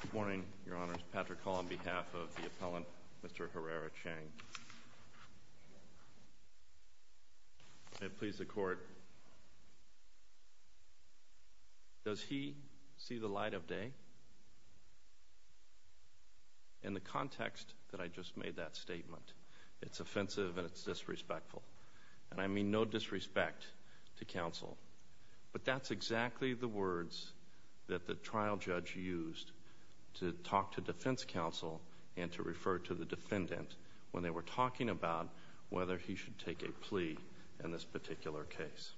Good morning, Your Honors. Patrick Hull on behalf of the appellant, Mr. Herrera-Chiang. May it please the Court. Does he see the light of day? In the context that I just made that statement, it's offensive and it's disrespectful. And I mean no disrespect to counsel. But that's exactly the words that the trial judge used to talk to defense counsel and to refer to the defendant when they were talking about whether he should take a plea in this particular case.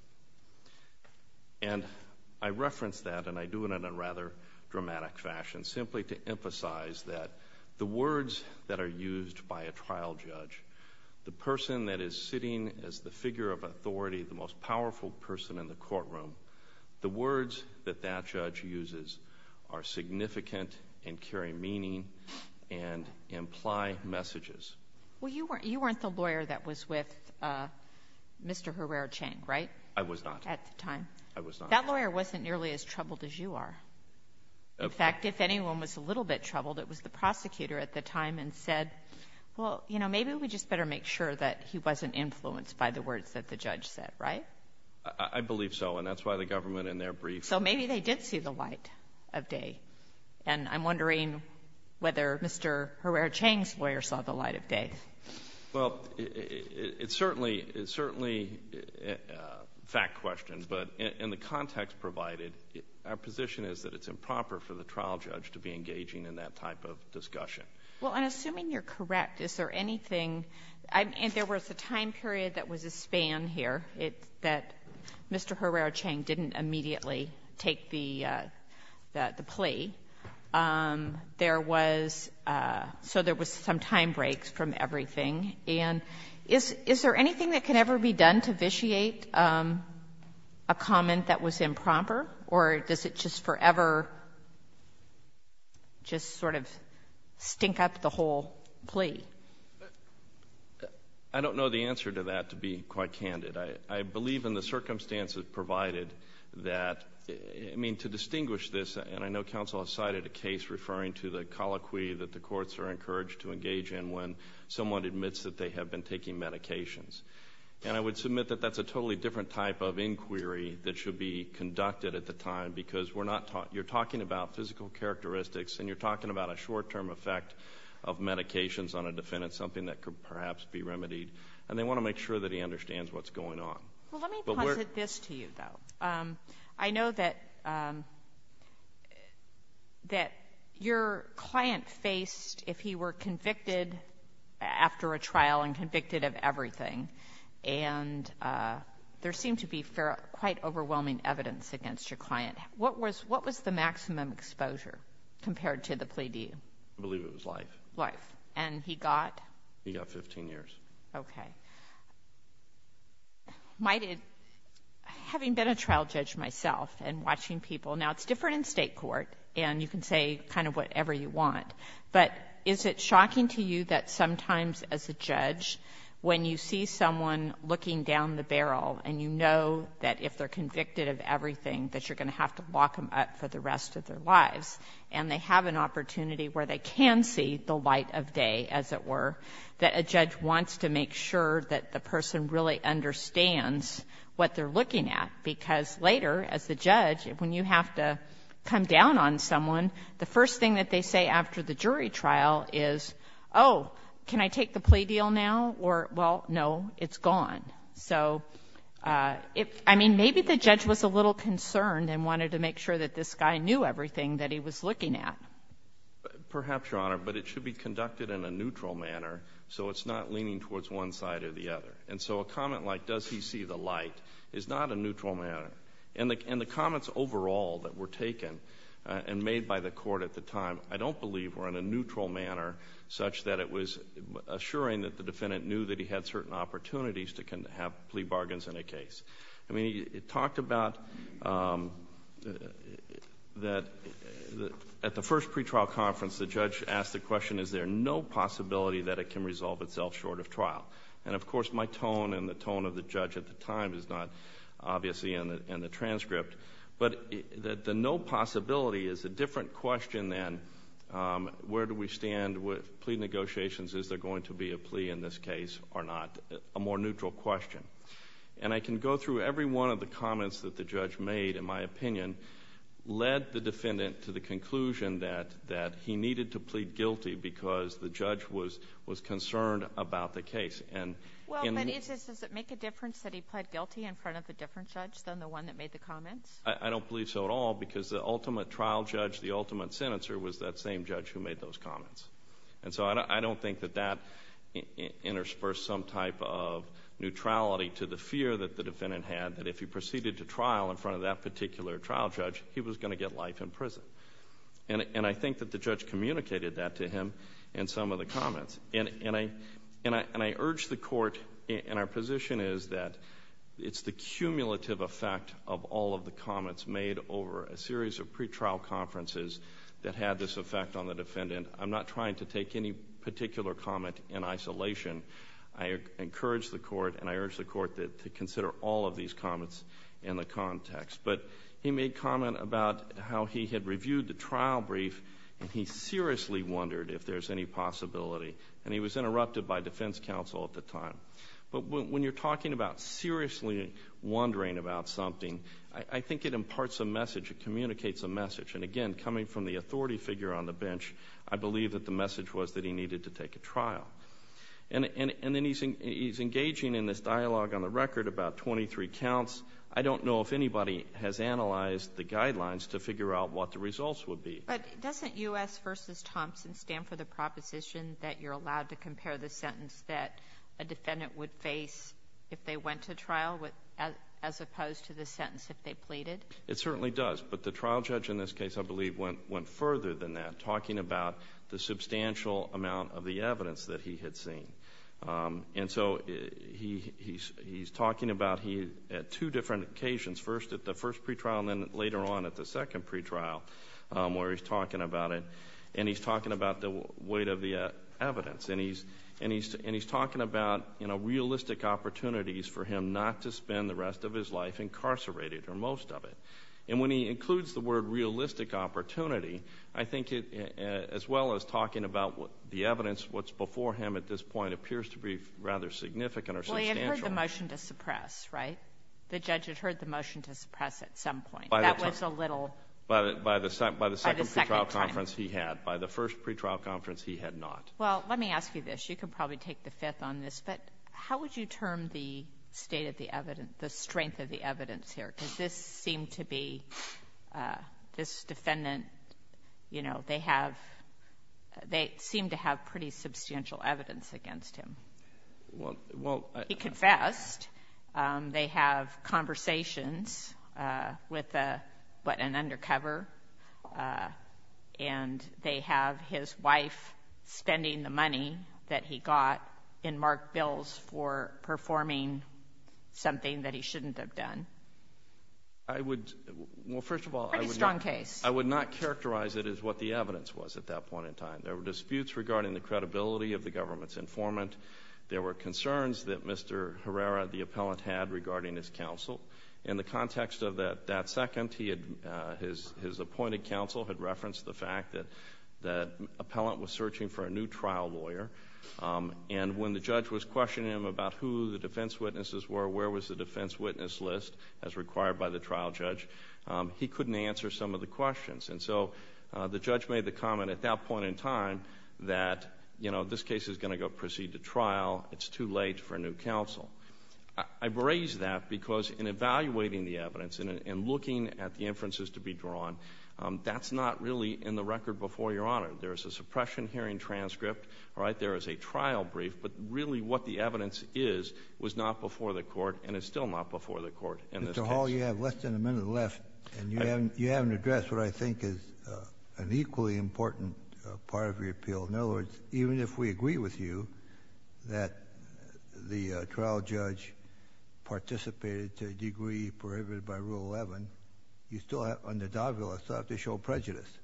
And I reference that, and I do it in a rather dramatic fashion, simply to emphasize that the words that are used by a trial judge, the person that is sitting as the figure of authority, the most powerful person in the courtroom, the words that that judge uses are significant and carry meaning and imply messages. Well, you weren't the lawyer that was with Mr. Herrera-Chiang, right? I was not. At the time. I was not. That lawyer wasn't nearly as troubled as you are. In fact, if anyone was a little bit troubled, it was the prosecutor at the time and said, well, you know, maybe we just better make sure that he wasn't influenced by the words that the judge said. Right? I believe so. And that's why the government in their brief. So maybe they did see the light of day. And I'm wondering whether Mr. Herrera-Chiang's lawyer saw the light of day. Well, it's certainly a fact question. But in the context provided, our position is that it's improper for the trial judge to be engaging in that type of discussion. Well, I'm assuming you're correct. Is there anything – and there was a time period that was a span here that Mr. Herrera-Chiang didn't immediately take the plea. There was – so there was some time break from everything. And is there anything that can ever be done to vitiate a comment that was improper, or does it just forever just sort of stink up the whole plea? I don't know the answer to that, to be quite candid. I believe in the circumstances provided that – I mean, to distinguish this, and I know counsel has cited a case referring to the colloquy that the courts are encouraged to engage in when someone admits that they have been taking medications. And I would submit that that's a totally different type of inquiry that should be conducted at the time because we're not – you're talking about physical characteristics and you're talking about a short-term effect of medications on a defendant, something that could perhaps be remedied. And they want to make sure that he understands what's going on. Well, let me posit this to you, though. I know that your client faced, if he were convicted after a trial and convicted of everything, and there seemed to be quite overwhelming evidence against your client. What was the maximum exposure compared to the plea deal? I believe it was life. Life. And he got? He got 15 years. Okay. Might it – having been a trial judge myself and watching people – now, it's different in State court, and you can say kind of whatever you want, but is it shocking to you that sometimes, as a judge, when you see someone looking down the barrel and you know that if they're convicted of everything that you're going to have to lock them up for the rest of their lives and they have an opportunity where they can see the light of day, as it were, that a judge wants to make sure that the person really understands what they're looking at? Because later, as the judge, when you have to come down on someone, the first thing that they say after the jury trial is, oh, can I take the plea deal now? Or, well, no, it's gone. So if – I mean, maybe the judge was a little concerned and wanted to make sure that this guy knew everything that he was looking at. Perhaps, Your Honor, but it should be conducted in a neutral manner so it's not leaning towards one side or the other. And so a comment like, does he see the light, is not a neutral manner. And the comments overall that were taken and made by the court at the time, I don't believe were in a neutral manner such that it was assuring that the defendant knew that he had certain opportunities to have plea bargains in a case. I mean, it talked about that at the first pretrial conference, the judge asked the question, is there no possibility that it can resolve itself short of trial? And, of course, my tone and the tone of the judge at the time is not obviously in the transcript. But the no possibility is a different question than where do we stand with plea negotiations? Is there going to be a plea in this case or not? A more neutral question. And I can go through every one of the comments that the judge made, in my opinion, led the defendant to the conclusion that he needed to plead guilty because the judge was concerned about the case. Well, but does it make a difference that he pled guilty in front of a different judge than the one that made the comments? I don't believe so at all because the ultimate trial judge, the ultimate senator, was that same judge who made those comments. And so I don't think that that interspersed some type of neutrality to the fear that the defendant had that if he proceeded to trial in front of that particular trial judge, he was going to get life in prison. And I think that the judge communicated that to him in some of the comments. And I urge the Court, and our position is that it's the cumulative effect of all of the comments made over a series of pretrial conferences that had this effect on the defendant. I'm not trying to take any particular comment in isolation. I encourage the Court and I urge the Court to consider all of these comments in the context. But he made comment about how he had reviewed the trial brief and he seriously wondered if there's any possibility. And he was interrupted by defense counsel at the time. But when you're talking about seriously wondering about something, And again, coming from the authority figure on the bench, I believe that the message was that he needed to take a trial. And then he's engaging in this dialogue on the record about 23 counts. I don't know if anybody has analyzed the guidelines to figure out what the results would be. But doesn't U.S. v. Thompson stand for the proposition that you're allowed to compare the sentence that a defendant would face if they went to trial as opposed to the sentence if they pleaded? It certainly does. But the trial judge in this case, I believe, went further than that, talking about the substantial amount of the evidence that he had seen. And so he's talking about at two different occasions, first at the first pretrial and then later on at the second pretrial where he's talking about it. And he's talking about the weight of the evidence. And he's talking about realistic opportunities for him not to spend the rest of his life incarcerated or most of it. And when he includes the word realistic opportunity, I think as well as talking about the evidence, what's before him at this point appears to be rather significant or substantial. Well, he had heard the motion to suppress, right? The judge had heard the motion to suppress at some point. That was a little by the second time. By the second pretrial conference he had. By the first pretrial conference he had not. Well, let me ask you this. You can probably take the fifth on this. But how would you term the state of the evidence, the strength of the evidence here? Because this seemed to be this defendant, you know, they have they seem to have pretty substantial evidence against him. Well, he confessed. They have conversations with an undercover. And they have his wife spending the money that he got in marked bills for performing something that he shouldn't have done. I would, well, first of all. Pretty strong case. I would not characterize it as what the evidence was at that point in time. There were disputes regarding the credibility of the government's informant. There were concerns that Mr. Herrera, the appellant, had regarding his counsel. In the context of that second, his appointed counsel had referenced the fact that the appellant was searching for a new trial lawyer. And when the judge was questioning him about who the defense witnesses were, where was the defense witness list as required by the trial judge, he couldn't answer some of the questions. And so the judge made the comment at that point in time that, you know, this case is going to go proceed to trial. It's too late for a new counsel. I raise that because in evaluating the evidence and looking at the inferences to be drawn, that's not really in the record before Your Honor. There is a suppression hearing transcript. Right there is a trial brief. But really what the evidence is was not before the court and is still not before the court in this case. I recall you have less than a minute left and you haven't addressed what I think is an equally important part of your appeal. In other words, even if we agree with you that the trial judge participated to a degree prohibited by Rule 11, you still have to show prejudice. What's the prejudice?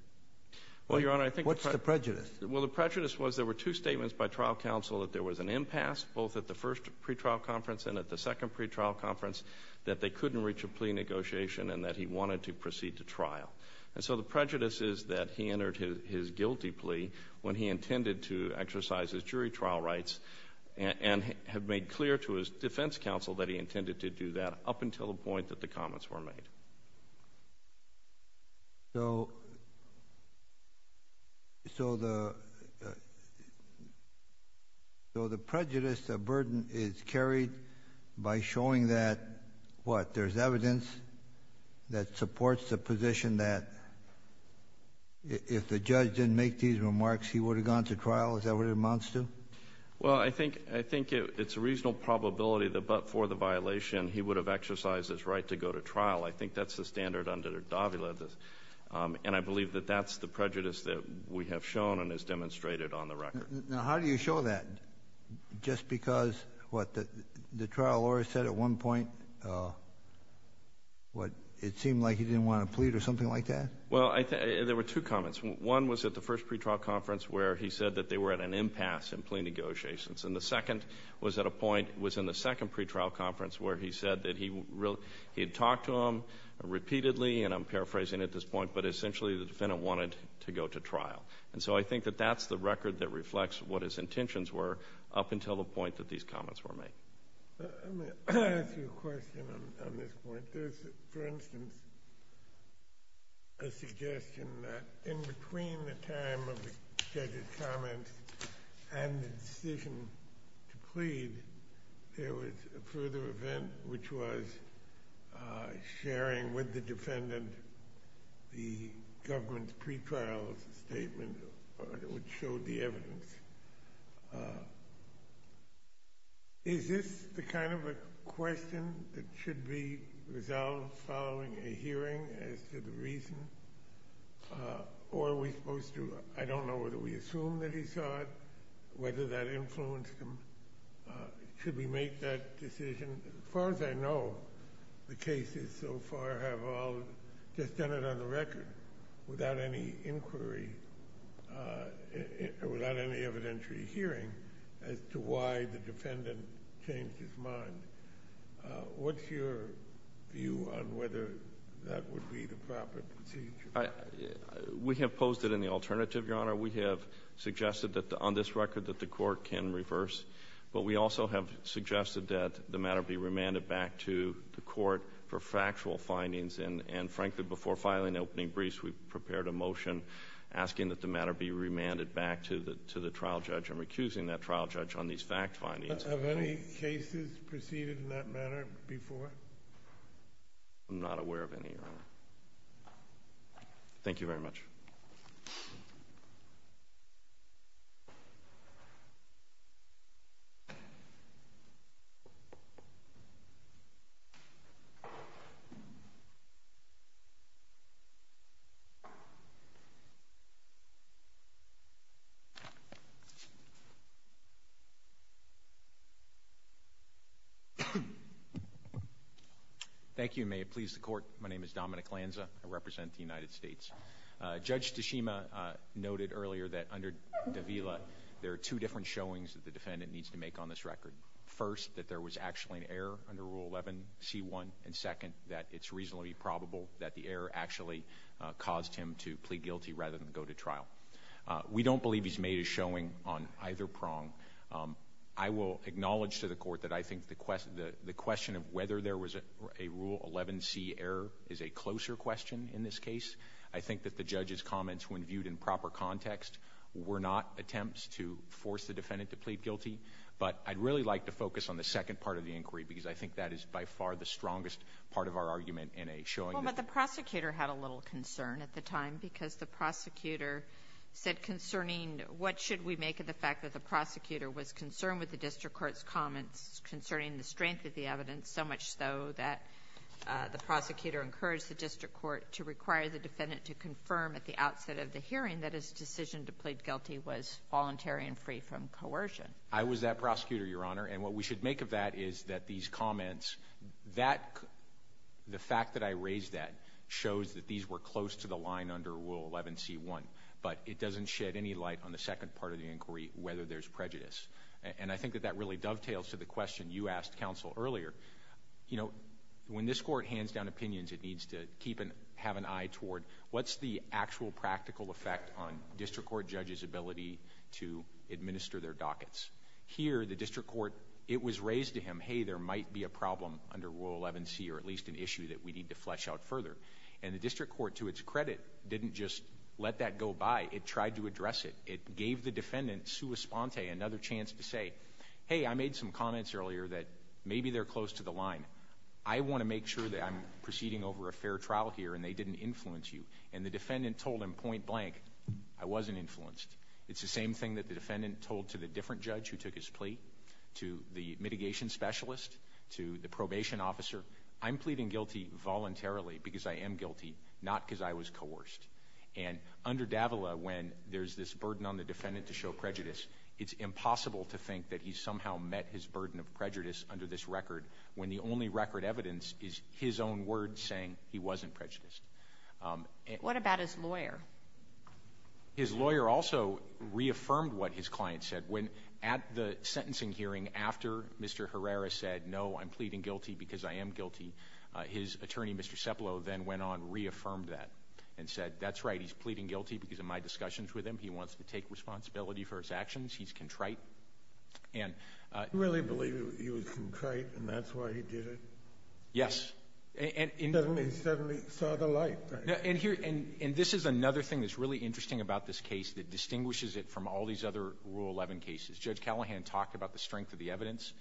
Well, Your Honor, I think the prejudice was there were two statements by trial counsel that there was an impasse, both at the first pretrial conference and at the second pretrial conference, that they couldn't reach a plea negotiation and that he wanted to proceed to trial. And so the prejudice is that he entered his guilty plea when he intended to exercise his jury trial rights and had made clear to his defense counsel that he intended to do that up until the point that the comments were made. So the prejudice, the burden, is carried by showing that what? There's evidence that supports the position that if the judge didn't make these remarks, he would have gone to trial? Is that what it amounts to? Well, I think it's a reasonable probability that but for the violation he would have exercised his right to go to trial. I think that's the standard under Davila. And I believe that that's the prejudice that we have shown and has demonstrated on the record. Now, how do you show that? Just because what, the trial lawyer said at one point what, it seemed like he didn't want to plead or something like that? Well, there were two comments. One was at the first pretrial conference where he said that they were at an impasse in plea negotiations. And the second was at a point, was in the second pretrial conference where he said that he had talked to him repeatedly, and I'm paraphrasing at this point, but essentially the defendant wanted to go to trial. And so I think that that's the record that reflects what his intentions were up until the point that these comments were made. Let me ask you a question on this point. There's, for instance, a suggestion that in between the time of the scheduled comments and the decision to plead, there was a further event which was sharing with the defendant the government's pretrial statement which showed the evidence. Is this the kind of a question that should be resolved following a hearing as to the reason? Or are we supposed to, I don't know whether we assume that he saw it, whether that influenced him. Should we make that decision? As far as I know, the cases so far have all just done it on the record without any inquiry, without any evidentiary hearing as to why the defendant changed his mind. What's your view on whether that would be the proper procedure? We have posed it in the alternative, Your Honor. We have suggested that on this record that the court can reverse. But we also have suggested that the matter be remanded back to the court for factual findings. And frankly, before filing opening briefs, we prepared a motion asking that the matter be remanded back to the trial judge. I'm recusing that trial judge on these fact findings. Have any cases proceeded in that manner before? I'm not aware of any, Your Honor. Thank you very much. Thank you, and may it please the Court. My name is Dominic Lanza. I represent the United States. Judge Tshishima noted earlier that under Davila, there are two different showings that the defendant needs to make on this record. First, that there was actually an error under Rule 11c1, and second, that it's reasonably probable that the error actually caused him to plead guilty rather than go to trial. We don't believe he's made a showing on either prong. I will acknowledge to the court that I think the question of whether there was a Rule 11c error is a closer question in this case. I think that the judge's comments, when viewed in proper context, were not attempts to force the defendant to plead guilty. But I'd really like to focus on the second part of the inquiry, because I think that is by far the strongest part of our argument in a showing. Well, but the prosecutor had a little concern at the time, because the prosecutor said concerning what should we make of the fact that the prosecutor was concerned with the district court's comments concerning the strength of the evidence, so much so that the prosecutor encouraged the district court to require the defendant to confirm at the outset of the hearing that his decision to plead guilty was voluntary and free from coercion. I was that prosecutor, Your Honor, and what we should make of that is that these comments, the fact that I raised that shows that these were close to the line under Rule 11c-1, but it doesn't shed any light on the second part of the inquiry, whether there's prejudice. And I think that that really dovetails to the question you asked counsel earlier. You know, when this court hands down opinions, it needs to have an eye toward what's the actual practical effect on district court judges' ability to administer their dockets. Here, the district court, it was raised to him, hey, there might be a problem under Rule 11c or at least an issue that we need to flesh out further. And the district court, to its credit, didn't just let that go by. It tried to address it. It gave the defendant, sua sponte, another chance to say, hey, I made some comments earlier that maybe they're close to the line. I want to make sure that I'm proceeding over a fair trial here and they didn't influence you. And the defendant told him point blank, I wasn't influenced. It's the same thing that the defendant told to the different judge who took his plea, to the mitigation specialist, to the probation officer, I'm pleading guilty voluntarily because I am guilty, not because I was coerced. And under Davila, when there's this burden on the defendant to show prejudice, it's impossible to think that he somehow met his burden of prejudice under this record when the only record evidence is his own words saying he wasn't prejudiced. What about his lawyer? His lawyer also reaffirmed what his client said. When at the sentencing hearing, after Mr. Herrera said, no, I'm pleading guilty because I am guilty, his attorney, Mr. Cepelo, then went on, reaffirmed that and said, that's right, he's pleading guilty because in my discussions with him, he wants to take responsibility for his actions. He's contrite. You really believe he was contrite and that's why he did it? Yes. He suddenly saw the light. And this is another thing that's really interesting about this case that distinguishes it from all these other Rule 11 cases. Judge Callahan talked about the strength of the evidence.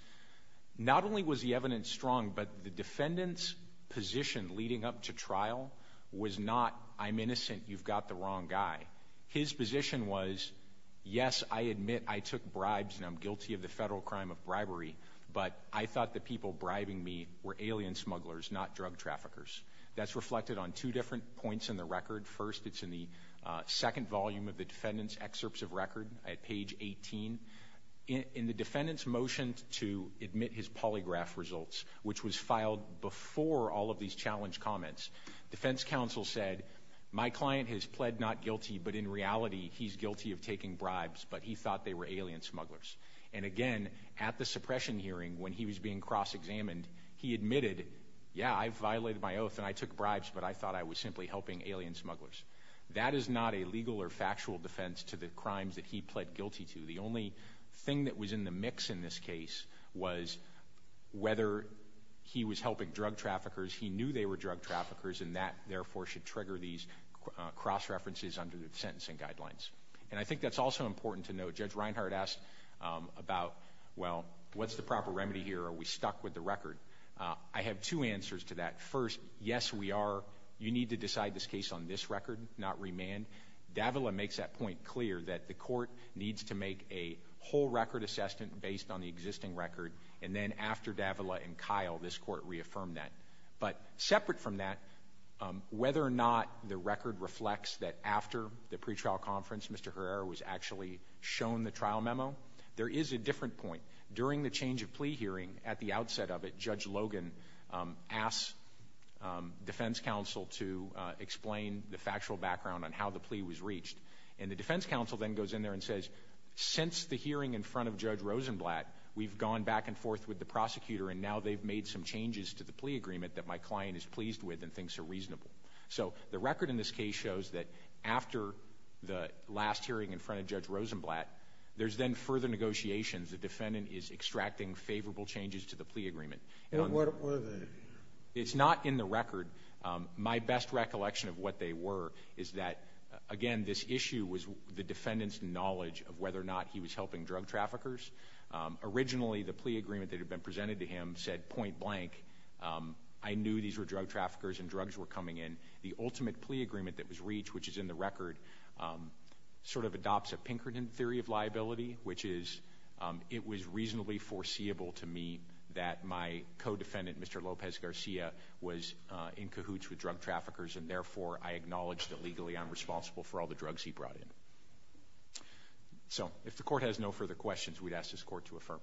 Not only was the evidence strong, but the defendant's position leading up to trial was not, I'm innocent, you've got the wrong guy. His position was, yes, I admit I took bribes and I'm guilty of the federal crime of bribery, but I thought the people bribing me were alien smugglers, not drug traffickers. That's reflected on two different points in the record. First, it's in the second volume of the defendant's excerpts of record at page 18. In the defendant's motion to admit his polygraph results, which was filed before all of these challenge comments, defense counsel said, my client has pled not guilty, but in reality, he's guilty of taking bribes, but he thought they were alien smugglers. And again, at the suppression hearing when he was being cross-examined, he admitted, yeah, I violated my oath and I took bribes, but I thought I was simply helping alien smugglers. That is not a legal or factual defense to the crimes that he pled guilty to. The only thing that was in the mix in this case was whether he was helping drug traffickers. He knew they were drug traffickers, and that, therefore, should trigger these cross-references under the sentencing guidelines. And I think that's also important to note. Judge Reinhart asked about, well, what's the proper remedy here? Are we stuck with the record? I have two answers to that. First, yes, we are. You need to decide this case on this record, not remand. Davila makes that point clear, that the court needs to make a whole record assessment based on the existing record, and then after Davila and Kyle, this court reaffirmed that. But separate from that, whether or not the record reflects that after the pretrial conference, Mr. Herrera was actually shown the trial memo, there is a different point. During the change of plea hearing, at the outset of it, Judge Logan asked defense counsel to explain the factual background on how the plea was reached. And the defense counsel then goes in there and says, since the hearing in front of Judge Rosenblatt, we've gone back and forth with the prosecutor, and now they've made some changes to the plea agreement that my client is pleased with and thinks are reasonable. So the record in this case shows that after the last hearing in front of Judge Rosenblatt, there's then further negotiations. The defendant is extracting favorable changes to the plea agreement. And what are they? It's not in the record. My best recollection of what they were is that, again, this issue was the defendant's knowledge of whether or not he was helping drug traffickers. Originally, the plea agreement that had been presented to him said point blank. I knew these were drug traffickers and drugs were coming in. The ultimate plea agreement that was reached, which is in the record, sort of adopts a Pinkerton theory of liability, which is it was reasonably foreseeable to me that my co-defendant, Mr. Lopez-Garcia, was in cahoots with drug traffickers, and therefore I acknowledge that legally I'm responsible for all the drugs he brought in. So if the Court has no further questions, we'd ask this Court to affirm.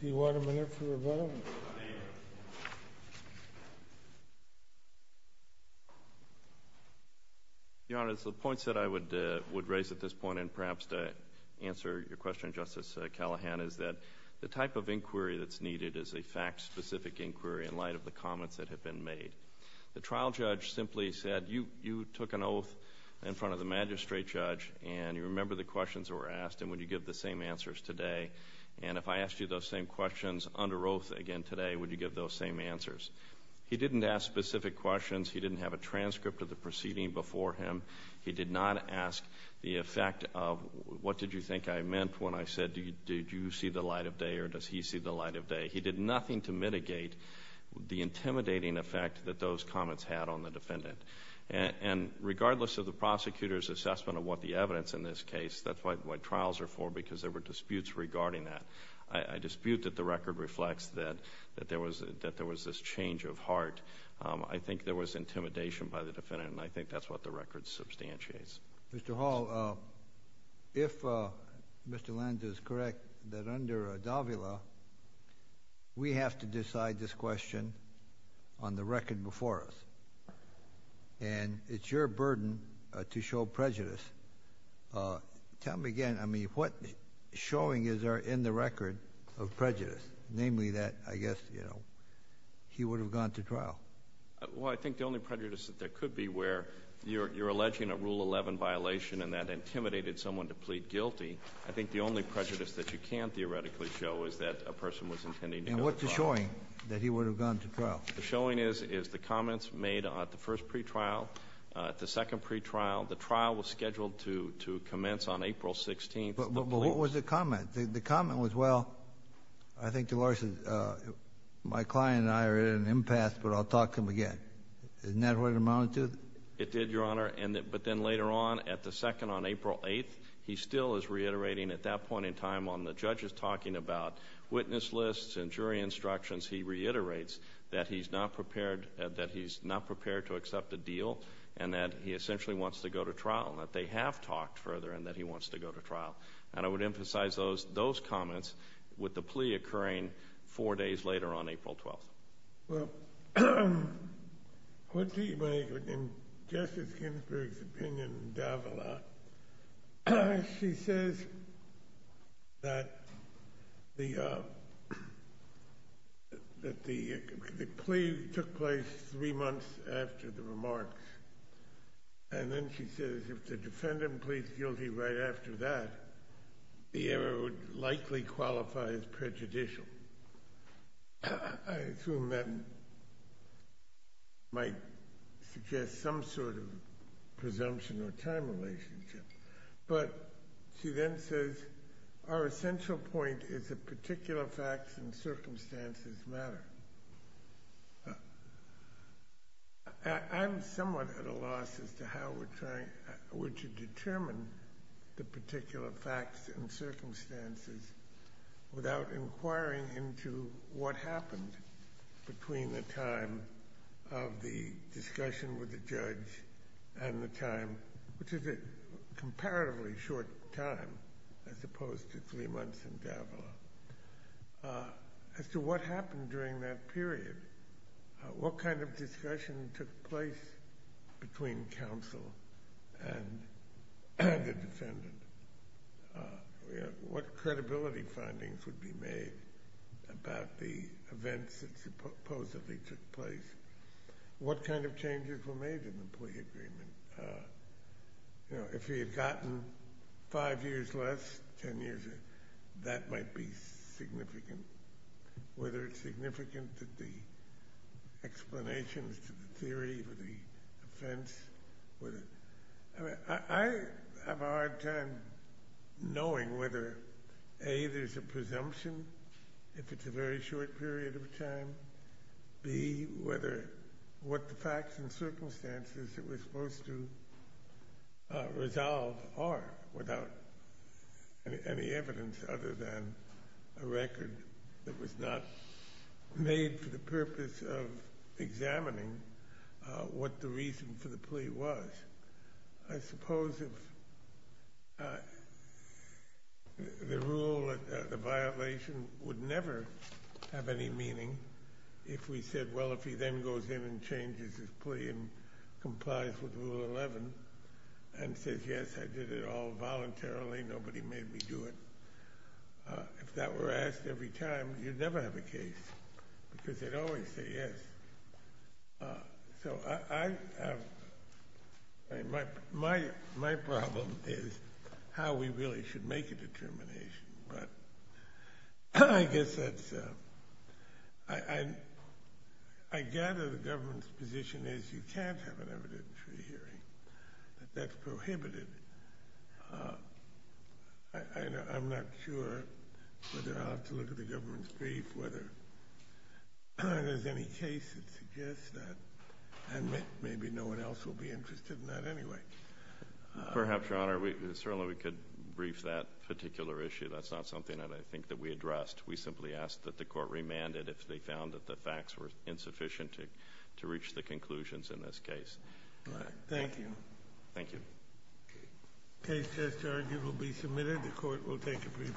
Do you want him in here for a vote? Your Honor, it's the points that I would raise at this point, and perhaps to answer your question, Justice Callahan, is that the type of inquiry that's needed is a fact-specific inquiry in light of the comments that have been made. The trial judge simply said, you took an oath in front of the magistrate judge, and you remember the questions that were asked, and would you give the same answers today? And if I asked you those same questions under oath again today, would you give those same answers? He didn't ask specific questions. He didn't have a transcript of the proceeding before him. He did not ask the effect of, what did you think I meant when I said, did you see the light of day, or does he see the light of day? He did nothing to mitigate the intimidating effect that those comments had on the defendant. And regardless of the prosecutor's assessment of what the evidence in this case, that's why trials are for, because there were disputes regarding that. I dispute that the record reflects that there was this change of heart. I think there was intimidation by the defendant, and I think that's what the record substantiates. Mr. Hall, if Mr. Lenz is correct, that under Davila, we have to decide this question on the record before us. And it's your burden to show prejudice. Tell me again, I mean, what showing is there in the record of prejudice? Namely that, I guess, you know, he would have gone to trial. Well, I think the only prejudice that there could be where you're alleging a Rule 11 violation and that intimidated someone to plead guilty, I think the only prejudice that you can theoretically show is that a person was intending to go to trial. And what's the showing that he would have gone to trial? The showing is the comments made at the first pretrial, at the second pretrial. The trial was scheduled to commence on April 16th. But what was the comment? The comment was, well, I think, Delores, my client and I are at an impasse, but I'll talk to him again. Isn't that what it amounted to? It did, Your Honor, but then later on, at the second, on April 8th, he still is reiterating at that point in time on the judge's talking about witness lists and jury instructions, he reiterates that he's not prepared to accept a deal and that he essentially wants to go to trial, and that they have talked further and that he wants to go to trial. And I would emphasize those comments with the plea occurring four days later on April 12th. Well, what do you make of Justice Ginsburg's opinion in Davila? She says that the plea took place three months after the remarks, and then she says, if the defendant pleads guilty right after that, the error would likely qualify as prejudicial. I assume that might suggest some sort of presumption or time relationship. But she then says, our essential point is that particular facts and circumstances matter. I'm somewhat at a loss as to how we're trying to determine the particular facts and circumstances without inquiring into what happened between the time of the discussion with the judge and the time, which is a comparatively short time, as opposed to three months in Davila. As to what happened during that period, what kind of discussion took place between counsel and the defendant? What credibility findings would be made about the events that supposedly took place? What kind of changes were made in the plea agreement? If he had gotten five years less, ten years, that might be significant. Whether it's significant to the explanations, to the theory, to the offense. I have a hard time knowing whether, A, there's a presumption if it's a very short period of time, B, what the facts and circumstances it was supposed to resolve are, without any evidence other than a record that was not made for the purpose of examining what the reason for the plea was. I suppose the rule, the violation, would never have any meaning if we said, well, if he then goes in and changes his plea and complies with Rule 11 and says, yes, I did it all voluntarily, nobody made me do it. If that were asked every time, you'd never have a case because they'd always say yes. So I have, my problem is how we really should make a determination. But I guess that's, I gather the government's position is you can't have an evidentiary hearing. That's prohibited. I'm not sure whether I'll have to look at the government's brief, whether there's any case that suggests that, and maybe no one else will be interested in that anyway. Perhaps, Your Honor. Certainly we could brief that particular issue. That's not something that I think that we addressed. We simply asked that the court remand it if they found that the facts were insufficient to reach the conclusions in this case. All right. Thank you. Thank you. Case just argued will be submitted. The court will take a brief recess.